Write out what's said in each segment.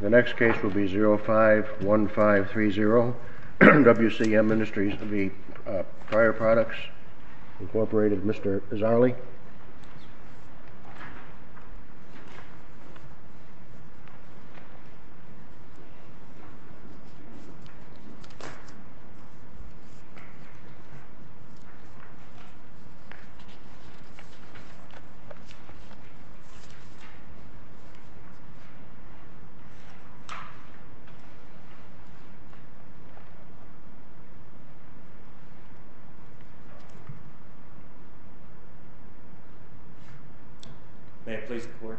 The next case will be 051530, WCM Industries, Prior Products, Incorporated, Mr. Izzali. Mr. Izzali. May I please report?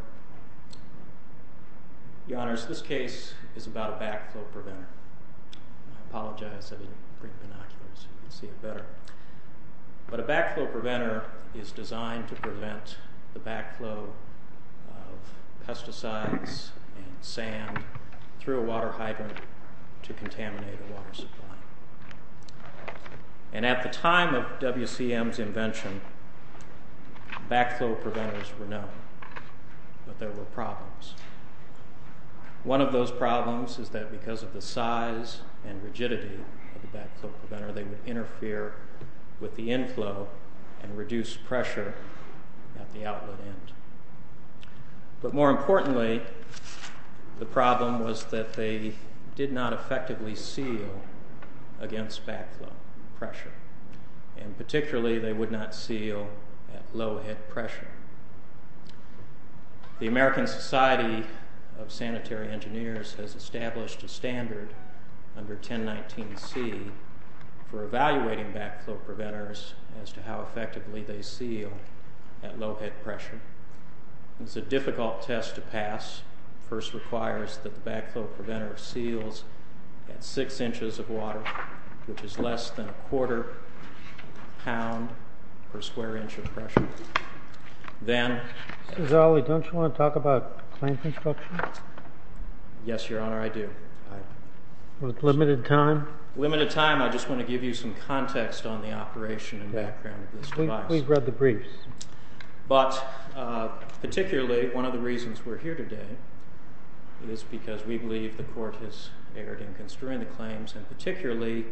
Your Honors, this case is about a backflow preventer. I apologize, I didn't bring binoculars so you could see it better. But a backflow preventer is designed to prevent the backflow of pesticides and sand through a water hydrant to contaminate a water supply. And at the time of WCM's invention, backflow preventers were known, but there were problems. One of those problems is that because of the size and rigidity of the backflow preventer, they would interfere with the inflow and reduce pressure at the outlet end. But more importantly, the problem was that they did not effectively seal against backflow pressure. And particularly, they would not seal at low head pressure. The American Society of Sanitary Engineers has established a standard under 1019C for evaluating backflow preventers as to how effectively they seal at low head pressure. It's a difficult test to pass. It first requires that the backflow preventer seals at 6 inches of water, which is less than a quarter pound per square inch of pressure. Mr. Izzali, don't you want to talk about claims instruction? Yes, Your Honor, I do. With limited time? With limited time, I just want to give you some context on the operation and background of this device. Please read the briefs. But particularly, one of the reasons we're here today is because we believe the Court has erred in construing the claims and particularly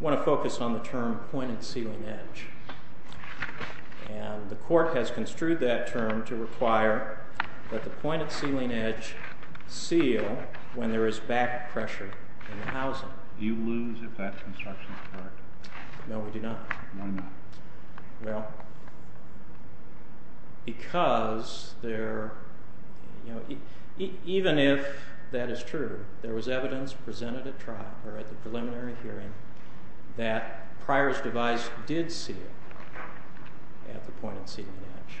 want to focus on the term pointed sealing edge. And the Court has construed that term to require that the pointed sealing edge seal when there is back pressure in the housing. Do you lose if that construction is correct? No, we do not. Why not? Well, because even if that is true, there was evidence presented at trial, or at the preliminary hearing, that Pryor's device did seal at the pointed sealing edge.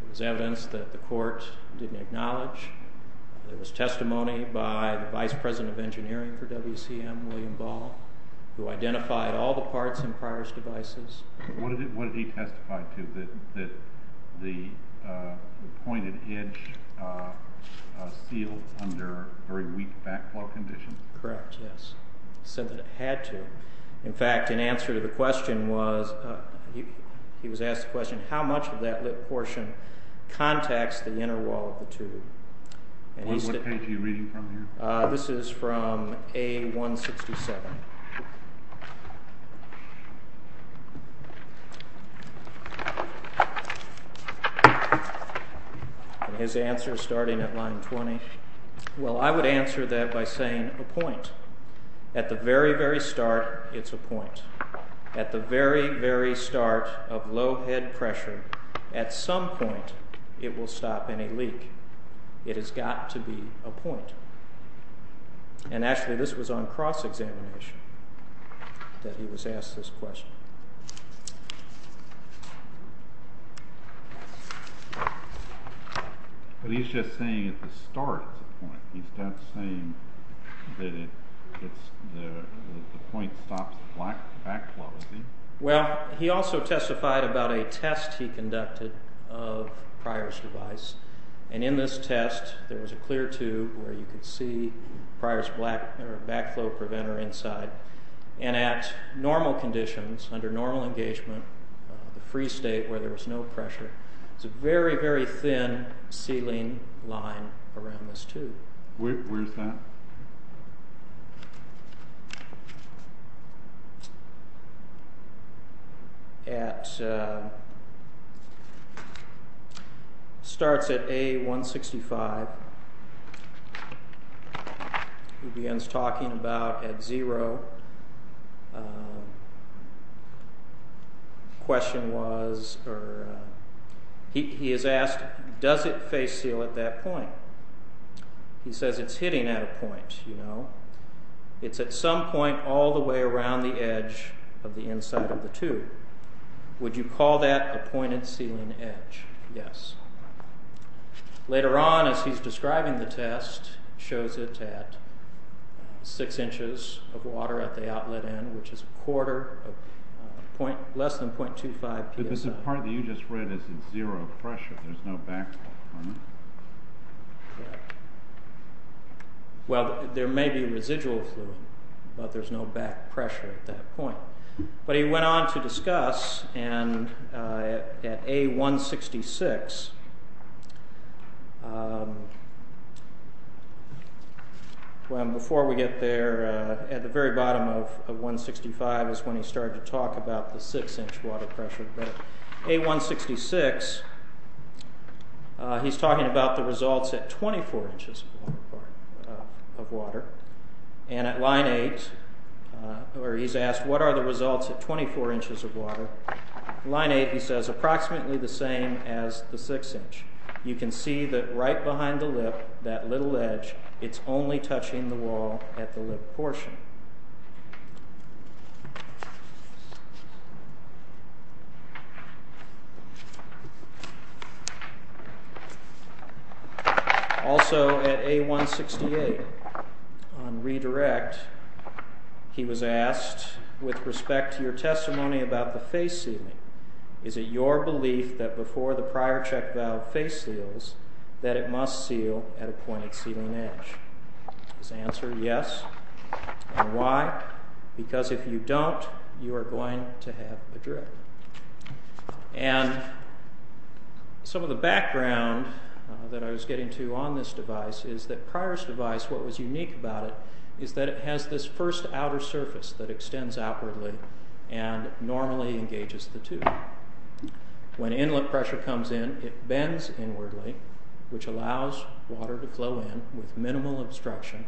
There was evidence that the Court didn't acknowledge. There was testimony by the Vice President of Engineering for WCM, William Ball, who identified all the parts in Pryor's devices. What did he testify to? That the pointed edge sealed under very weak backflow conditions? Correct, yes. He said that it had to. In fact, in answer to the question was, he was asked the question, how much of that portion contacts the inner wall of the tube? What page are you reading from here? This is from A167. His answer, starting at line 20. Well, I would answer that by saying a point. At the very, very start, it's a point. At the very, very start of low head pressure, at some point, it will stop any leak. It has got to be a point. And actually, this was on cross-examination that he was asked this question. But he's just saying at the start, it's a point. He's not saying that the point stops the backflow, is he? Well, he also testified about a test he conducted of Pryor's device. And in this test, there was a clear tube where you could see Pryor's backflow preventer inside. And at normal conditions, under normal engagement, the free state where there was no pressure, it's a very, very thin sealing line around this tube. Where's that? At... Starts at A165. He begins talking about at zero. Question was, or... He is asked, does it face seal at that point? It's at some point all the way around the edge of the inside of the tube. Would you call that a pointed sealing edge? Yes. Later on, as he's describing the test, shows it at six inches of water at the outlet end, which is a quarter of a point, less than 0.25 psi. But the part that you just read is at zero pressure. There's no backflow. Yeah. Well, there may be residual fluid, but there's no back pressure at that point. But he went on to discuss, and at A166... Well, before we get there, at the very bottom of 165 is when he started to talk about the six-inch water pressure. But A166, he's talking about the results at 24 inches of water. And at line 8, where he's asked, what are the results at 24 inches of water? Line 8, he says, approximately the same as the six-inch. You can see that right behind the lip, that little edge, it's only touching the wall at the lip portion. Also at A168, on redirect, he was asked, with respect to your testimony about the face sealing, is it your belief that before the prior check valve face seals, that it must seal at a pointed sealing edge? His answer, yes. And why? Because if you don't, you are going to have a drip. And some of the background that I was getting to on this device is that Pryor's device, what was unique about it, is that it has this first outer surface that extends outwardly and normally engages the tube. When inlet pressure comes in, it bends inwardly, which allows water to flow in with minimal obstruction.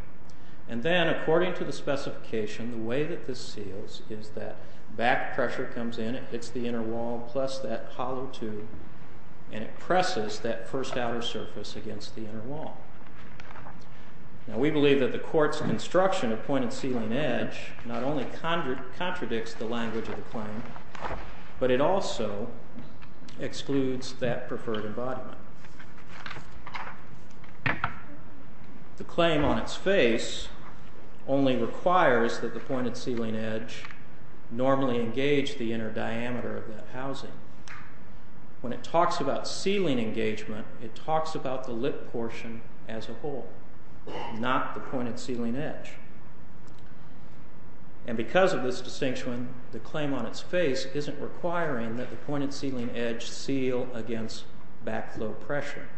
And then, according to the specification, the way that this seals is that back pressure comes in, it hits the inner wall plus that hollow tube, and it presses that first outer surface against the inner wall. Now, we believe that the court's construction of pointed sealing edge not only contradicts the language of the claim, but it also excludes that preferred embodiment. The claim on its face only requires that the pointed sealing edge normally engage the inner diameter of that housing. When it talks about sealing engagement, it talks about the lip portion as a whole, not the pointed sealing edge. And because of this distinction, the claim on its face isn't requiring that the pointed sealing edge seal against backflow pressure.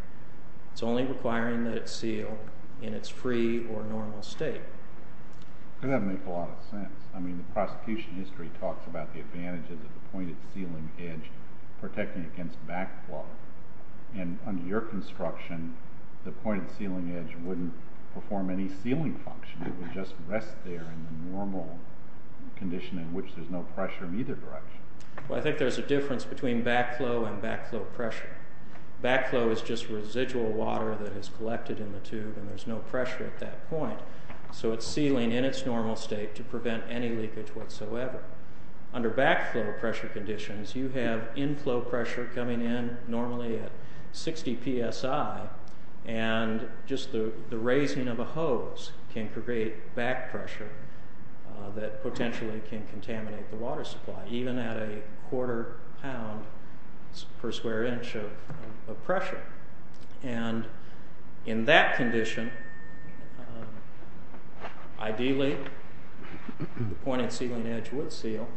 It's only requiring that it seal in its free or normal state. That doesn't make a lot of sense. I mean, the prosecution history talks about the advantages of the pointed sealing edge protecting against backflow. And under your construction, the pointed sealing edge wouldn't perform any sealing function. It would just rest there in the normal condition in which there's no pressure in either direction. Well, I think there's a difference between backflow and backflow pressure. Backflow is just residual water that is collected in the tube, and there's no pressure at that point. So it's sealing in its normal state to prevent any leakage whatsoever. Under backflow pressure conditions, you have inflow pressure coming in normally at 60 psi, and just the raising of a hose can create backpressure that potentially can contaminate the water supply, even at a quarter pound per square inch of pressure. And in that condition, ideally, the pointed sealing edge would seal.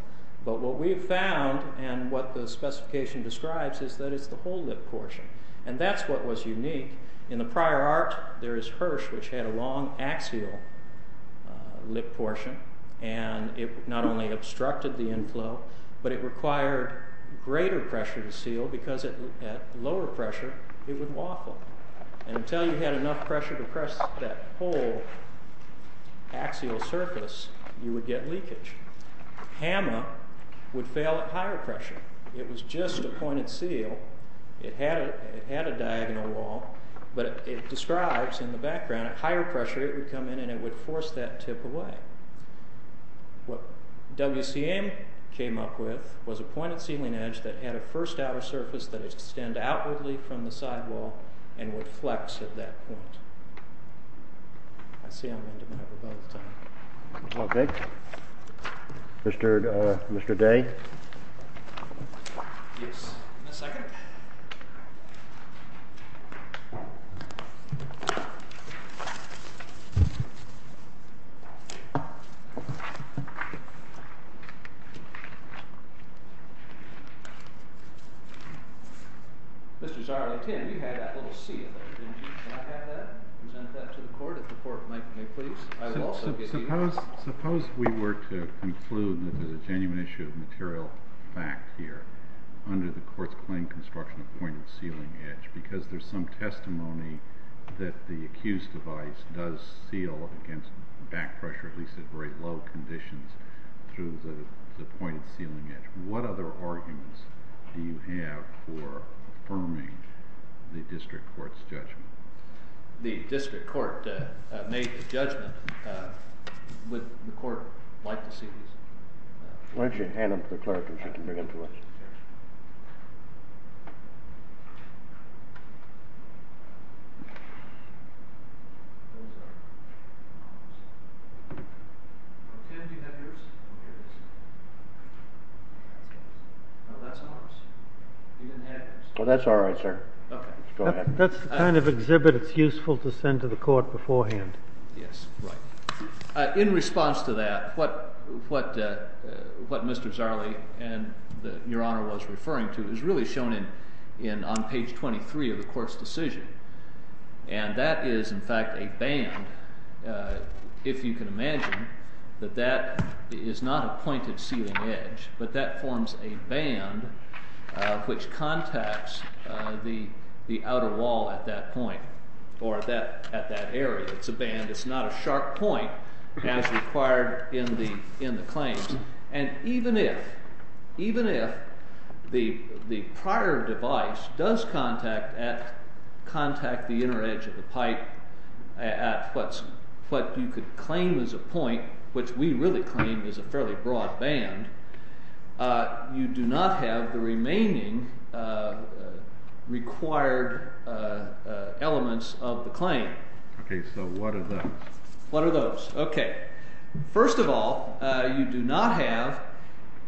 But what we've found and what the specification describes is that it's the whole lip portion. And that's what was unique. In the prior art, there is Hirsch, which had a long axial lip portion, and it not only obstructed the inflow, but it required greater pressure to seal because at lower pressure, it would waffle. And until you had enough pressure to press that whole axial surface, you would get leakage. Hama would fail at higher pressure. It was just a pointed seal. It had a diagonal wall, but it describes in the background at higher pressure, it would come in and it would force that tip away. What WCM came up with was a pointed sealing edge that had a first outer surface that would extend outwardly from the sidewall and would flex at that point. Mr. Day? Yes, in a second. Mr. Zahr? Mr. Zahr, Tim, you had that little seal there, didn't you? Can I have that and present that to the court? If the court might, may I please? I will also give you that. Suppose we were to conclude that there's a genuine issue of material fact here under the court's claim construction of pointed sealing edge because there's some testimony that the accused device does seal against back pressure, at least at very low conditions, through the pointed sealing edge. What other arguments do you have for affirming the district court's judgment? The district court made the judgment. Would the court like to see this? Why don't you hand them to the clerk and she can bring them to us? Tim, do you have yours? Oh, here it is. No, that's ours. You didn't have yours. Well, that's all right, sir. Go ahead. That's the kind of exhibit that's useful to send to the court beforehand. Yes, right. In response to that, what Mr. Zahrle and Your Honor was referring to is really shown on page 23 of the court's decision. And that is, in fact, a band. If you can imagine that that is not a pointed sealing edge, but that forms a band which contacts the outer wall at that point or at that area. It's a band. It's not a sharp point as required in the claims. And even if the prior device does contact the inner edge of the pipe at what you could claim is a point, which we really claim is a fairly broad band, you do not have the remaining required elements of the claim. Okay, so what are those? What are those? Okay, first of all, you do not have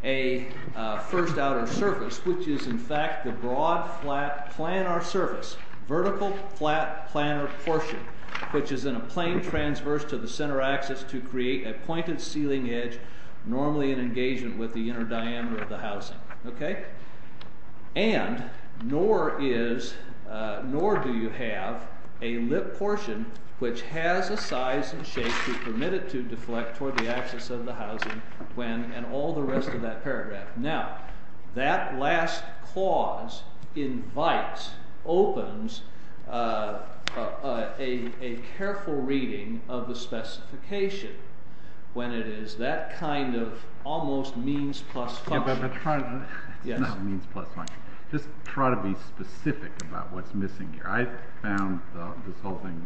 a first outer surface, which is, in fact, the broad flat planar surface, vertical flat planar portion, which is in a plane transverse to the center axis to create a pointed sealing edge normally in engagement with the inner diameter of the housing. And nor do you have a lip portion which has a size and shape to permit it to deflect toward the axis of the housing and all the rest of that paragraph. Now, that last clause invites, opens a careful reading of the specification when it is that kind of almost means plus function. It's not means plus function. Just try to be specific about what's missing here. I found this whole thing,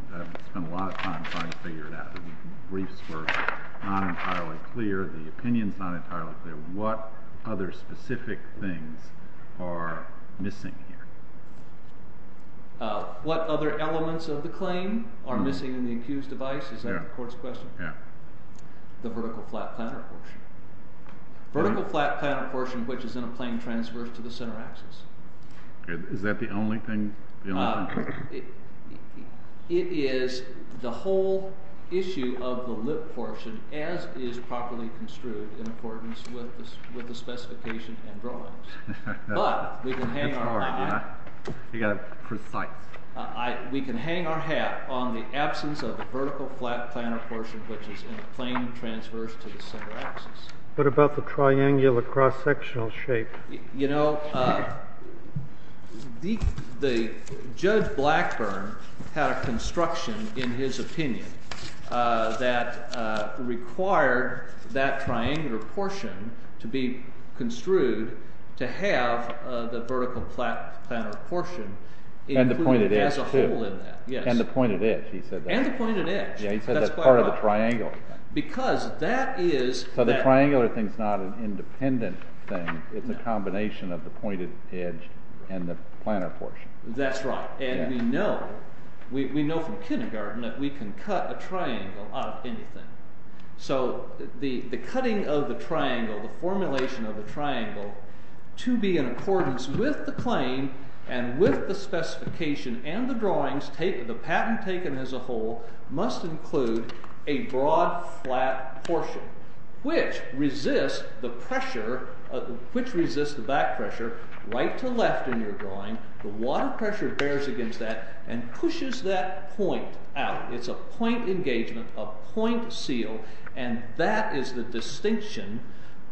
spent a lot of time trying to figure it out. The briefs were not entirely clear. The opinions not entirely clear. What other specific things are missing here? What other elements of the claim are missing in the accused device? Is that the court's question? Yeah. The vertical flat planar portion. Vertical flat planar portion which is in a plane transverse to the center axis. Is that the only thing? It is the whole issue of the lip portion as is properly construed in accordance with the specification and drawings. But we can hang our hat. You got to be precise. We can hang our hat on the absence of the vertical flat planar portion which is in a plane transverse to the center axis. What about the triangular cross-sectional shape? You know, Judge Blackburn had a construction in his opinion that required that triangular portion to be construed to have the vertical flat planar portion included as a whole in that. And the pointed edge too. And the pointed edge, he said that. And the pointed edge. Yeah, he said that's part of the triangular thing. Because that is. So the triangular thing is not an independent thing. It's a combination of the pointed edge and the planar portion. That's right. And we know from kindergarten that we can cut a triangle out of anything. So the cutting of the triangle, the formulation of the triangle to be in accordance with the claim and with the specification and the drawings, the patent taken as a whole must include a broad flat portion which resists the back pressure right to left in your drawing. The water pressure bears against that and pushes that point out. It's a point engagement, a point seal. And that is the distinction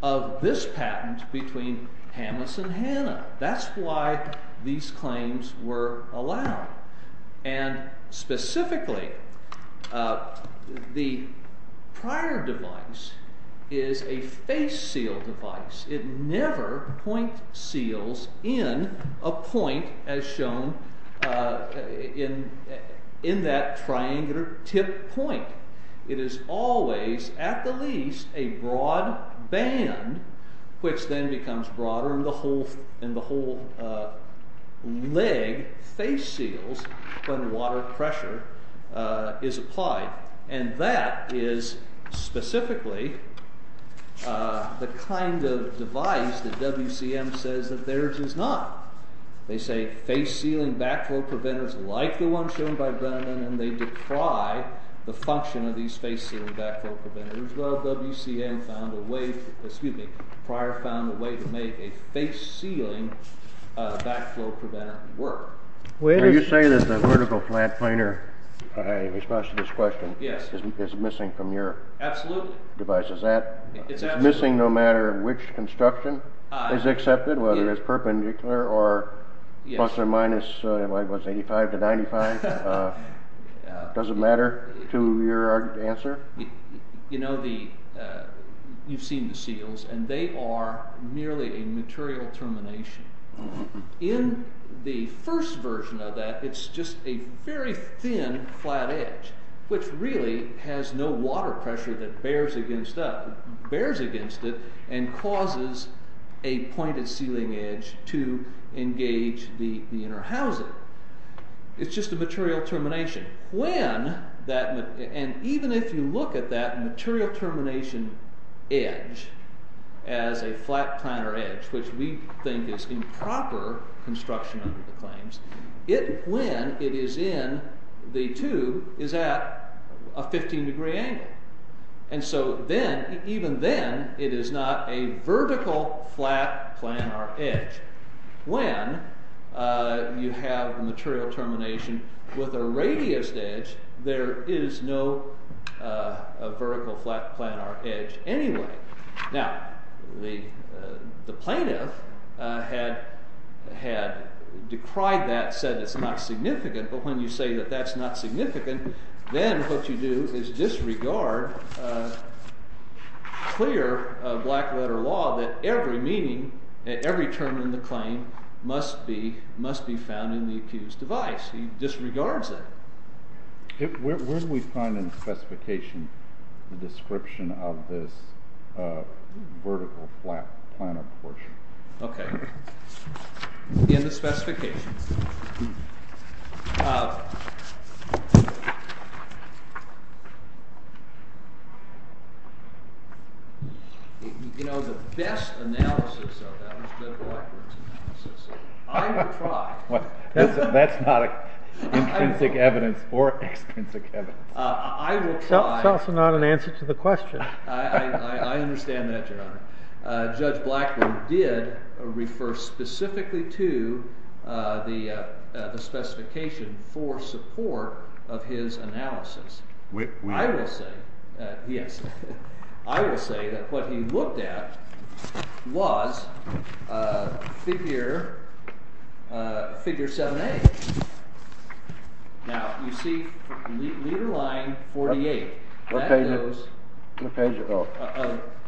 of this patent between Hamas and Hannah. That's why these claims were allowed. And specifically, the prior device is a face seal device. It never point seals in a point as shown in that triangular tip point. It is always, at the least, a broad band which then becomes broader and the whole leg face seals when water pressure is applied. And that is specifically the kind of device that WCM says that theirs is not. They say face sealing backflow preventers like the one shown by Brennan and they deprive the function of these face sealing backflow preventers. Well, WCM found a way, excuse me, prior found a way to make a face sealing backflow preventer work. Are you saying that the vertical flat planer, in response to this question, is missing from your device? Is that missing no matter which construction is accepted, whether it's perpendicular or plus or minus 85 to 95? Does it matter to your answer? You've seen the seals and they are merely a material termination. In the first version of that, it's just a very thin flat edge which really has no water pressure that bears against it and causes a pointed sealing edge to engage the inner housing. It's just a material termination. And even if you look at that material termination edge as a flat planer edge, which we think is improper construction under the claims, when it is in the tube is at a 15 degree angle. And so even then it is not a vertical flat planer edge when you have a material termination with a radiused edge, there is no vertical flat planer edge anyway. Now, the plaintiff had decried that, said it's not significant, but when you say that that's not significant, then what you do is disregard clear black letter law that every term in the claim must be found in the accused's device. He disregards that. Where do we find in the specification the description of this vertical flat planer portion? Okay. In the specification. You know, the best analysis of that was Judge Blackburn's analysis. I will try. That's not intrinsic evidence or extrinsic evidence. I will try. It's also not an answer to the question. I understand that, Your Honor. Judge Blackburn did refer specifically to the specification for support of his analysis. I will say that what he looked at was figure 7A. Now, you see leader line 48. What page?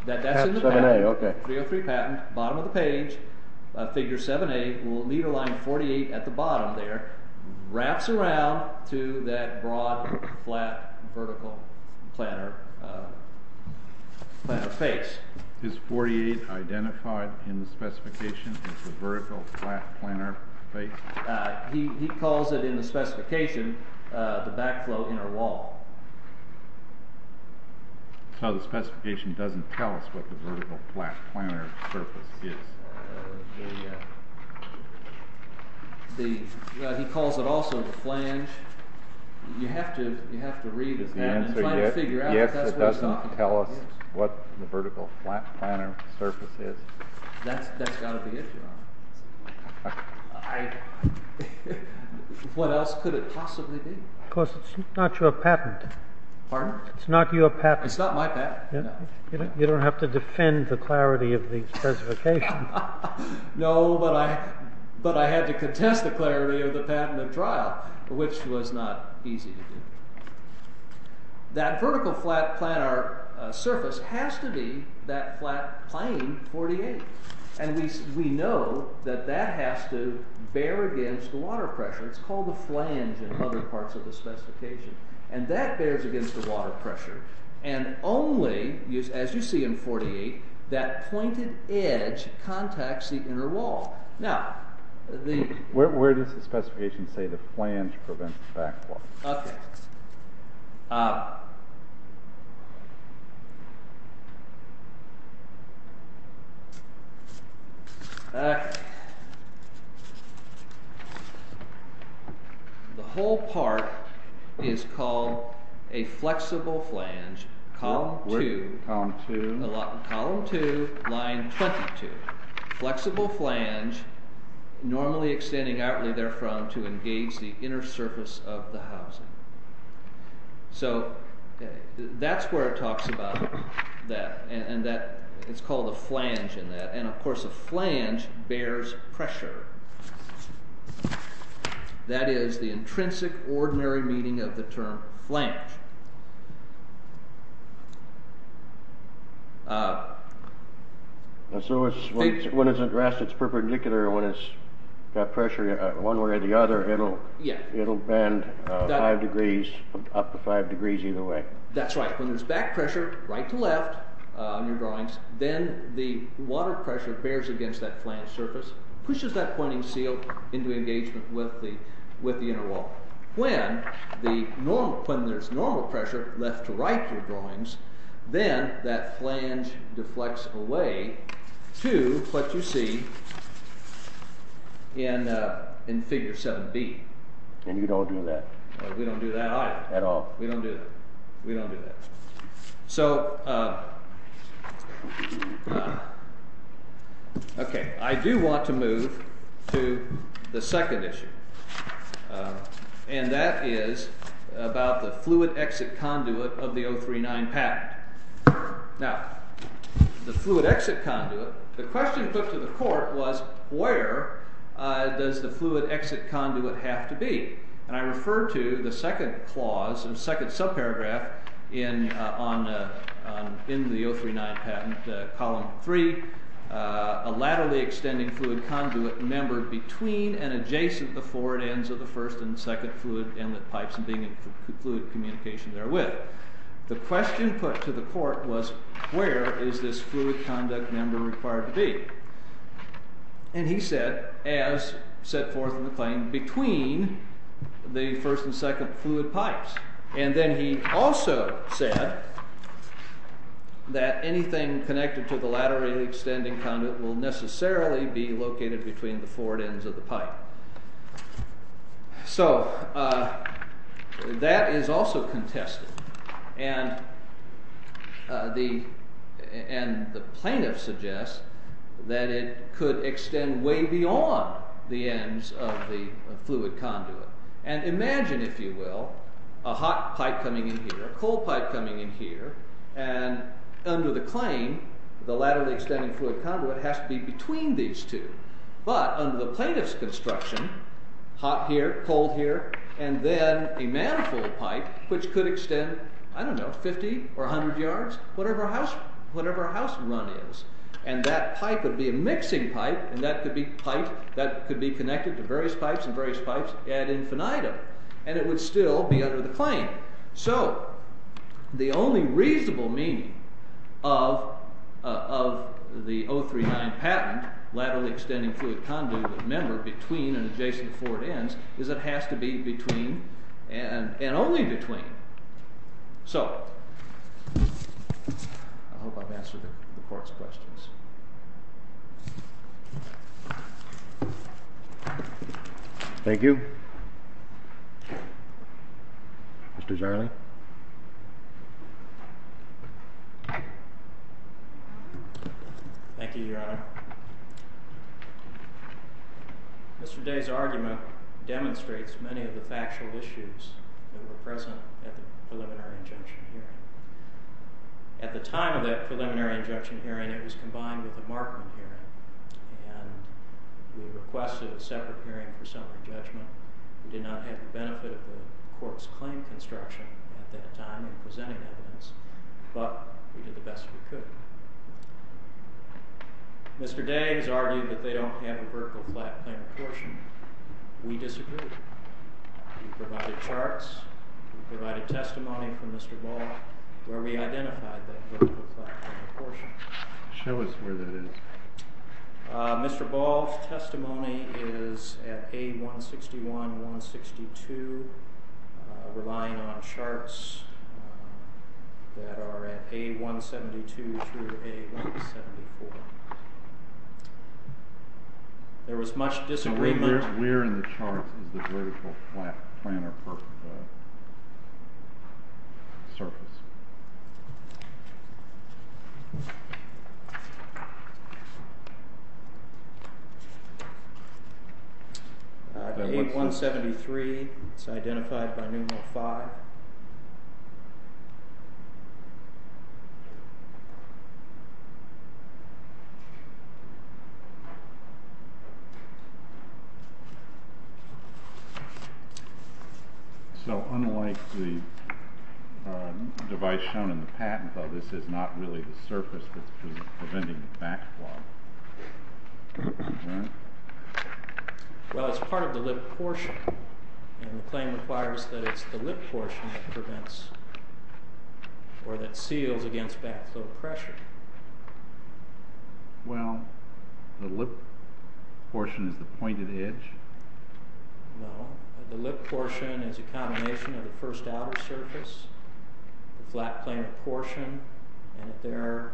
That's in the patent, 303 patent, bottom of the page, figure 7A. Leader line 48 at the bottom there wraps around to that broad flat vertical planer face. Is 48 identified in the specification as the vertical flat planer face? He calls it in the specification the backflow inner wall. So the specification doesn't tell us what the vertical flat planer surface is. He calls it also the flange. You have to read it. Yes, it doesn't tell us what the vertical flat planer surface is. That's got to be it, Your Honor. What else could it possibly be? Because it's not your patent. Pardon? It's not your patent. It's not my patent, no. You don't have to defend the clarity of the specification. No, but I had to contest the clarity of the patent at trial, which was not easy to do. That vertical flat planer surface has to be that flat plane 48. And we know that that has to bear against the water pressure. It's called the flange in other parts of the specification. And that bears against the water pressure. And only, as you see in 48, that pointed edge contacts the inner wall. Where does the specification say the flange prevents backflow? Okay. Okay. The whole part is called a flexible flange, column 2, line 22. Flexible flange, normally extending outwardly therefrom to engage the inner surface of the housing. So that's where it talks about that. And it's called a flange in that. And, of course, a flange bears pressure. That is the intrinsic ordinary meaning of the term flange. So when it's at rest, it's perpendicular. When it's got pressure one way or the other, it'll bend 5 degrees, up to 5 degrees either way. That's right. When there's back pressure right to left on your drawings, then the water pressure bears against that flange surface, pushes that pointing seal into engagement with the inner wall. When there's normal pressure left to right in your drawings, then that flange deflects away to what you see in figure 7B. And you don't do that. We don't do that either. At all. We don't do that. We don't do that. So, OK, I do want to move to the second issue. And that is about the fluid exit conduit of the 039 patent. Now, the fluid exit conduit, the question put to the court was where does the fluid exit conduit have to be? And I refer to the second clause, the second subparagraph in the 039 patent, column 3, a laterally extending fluid conduit member between and adjacent the forward ends of the first and second fluid inlet pipes and being in fluid communication therewith. The question put to the court was where is this fluid conduit member required to be? And he said, as set forth in the claim, between the first and second fluid pipes. And then he also said that anything connected to the laterally extending conduit will necessarily be located between the forward ends of the pipe. So that is also contested. And the plaintiff suggests that it could extend way beyond the ends of the fluid conduit. And imagine, if you will, a hot pipe coming in here, a cold pipe coming in here, and under the claim, the laterally extending fluid conduit has to be between these two. But under the plaintiff's construction, hot here, cold here, and then a manifold pipe which could extend, I don't know, 50 or 100 yards, whatever house run is, and that pipe would be a mixing pipe, and that could be connected to various pipes and various pipes ad infinitum. And it would still be under the claim. So the only reasonable meaning of the 039 patent, laterally extending fluid conduit member between an adjacent forward ends, is it has to be between and only between. So I hope I've answered the court's questions. Thank you. Mr. Jarle. Thank you, Your Honor. Mr. Day's argument demonstrates many of the factual issues that were present at the preliminary injunction hearing. At the time of that preliminary injunction hearing, it was combined with the Markham hearing, and we requested a separate hearing for summary judgment. We did not have the benefit of the court's claim construction at that time in presenting evidence, but we did the best we could. Mr. Day has argued that they don't have a vertical platform apportionment. We disagree. We provided charts. We provided testimony from Mr. Ball where we identified that vertical platform apportionment. Show us where that is. Mr. Ball's testimony is at A161, 162, relying on charts that are at A172 through A174. There was much disagreement. Where in the charts is the vertical planar surface? At A173, it's identified by numeral 5. So unlike the device shown in the chart, shown in the patent, though, this is not really the surface that's preventing backflow. Well, it's part of the lip portion, and the claim requires that it's the lip portion that prevents or that seals against backflow pressure. Well, the lip portion is the pointed edge? No, the lip portion is a combination of the first outer surface. The flat planar portion, and at their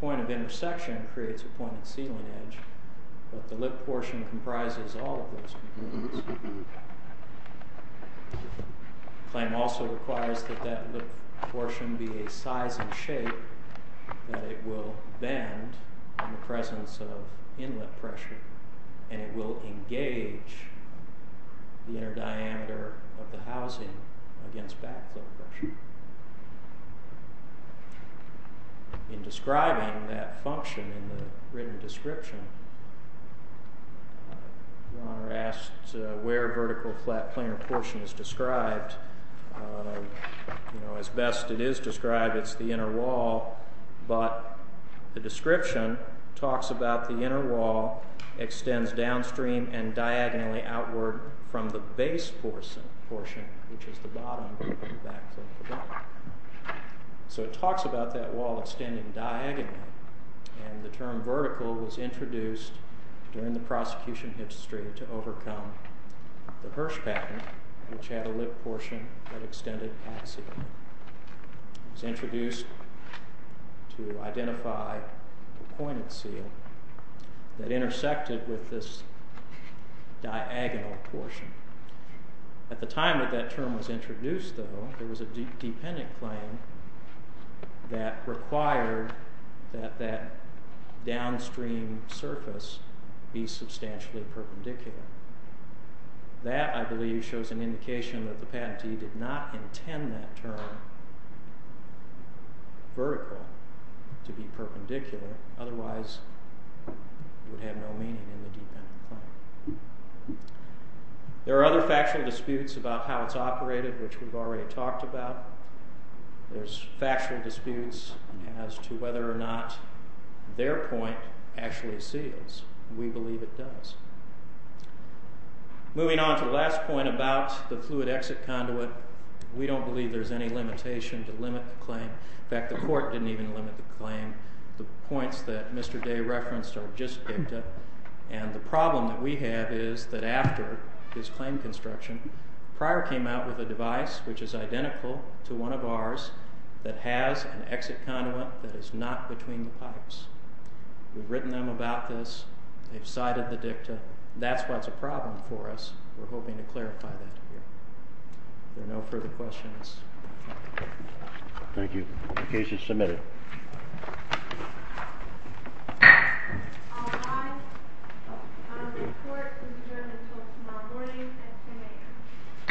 point of intersection, creates a pointed sealing edge, but the lip portion comprises all of those components. The claim also requires that that lip portion be a size and shape that it will bend in the presence of inlet pressure, and it will engage the inner diameter of the housing against backflow pressure. In describing that function in the written description, the owner asked where vertical flat planar portion is described. As best it is described, it's the inner wall, but the description talks about the inner wall extends downstream and diagonally outward from the base portion, which is the bottom of the backflow. So it talks about that wall extending diagonally, and the term vertical was introduced during the prosecution history to overcome the Hirsch patent, which had a lip portion that extended axially. It was introduced to identify the pointed seal that intersected with this diagonal portion. At the time that that term was introduced, though, there was a dependent claim that required that that downstream surface be substantially perpendicular. That, I believe, shows an indication that the patentee did not intend that term vertical to be perpendicular, otherwise it would have no meaning in the dependent claim. There are other factual disputes about how it's operated, which we've already talked about. There's factual disputes as to whether or not their point actually seals, and we believe it does. Moving on to the last point about the fluid exit conduit, we don't believe there's any limitation to limit the claim. In fact, the court didn't even limit the claim. The points that Mr. Day referenced are just dicta, and the problem that we have is that after his claim construction, Pryor came out with a device which is identical to one of ours that has an exit conduit that is not between the pipes. We've written them about this. They've cited the dicta. That's what's a problem for us. We're hoping to clarify that here. Are there no further questions? Thank you. The case is submitted. I report to the jury until tomorrow morning at 10 a.m.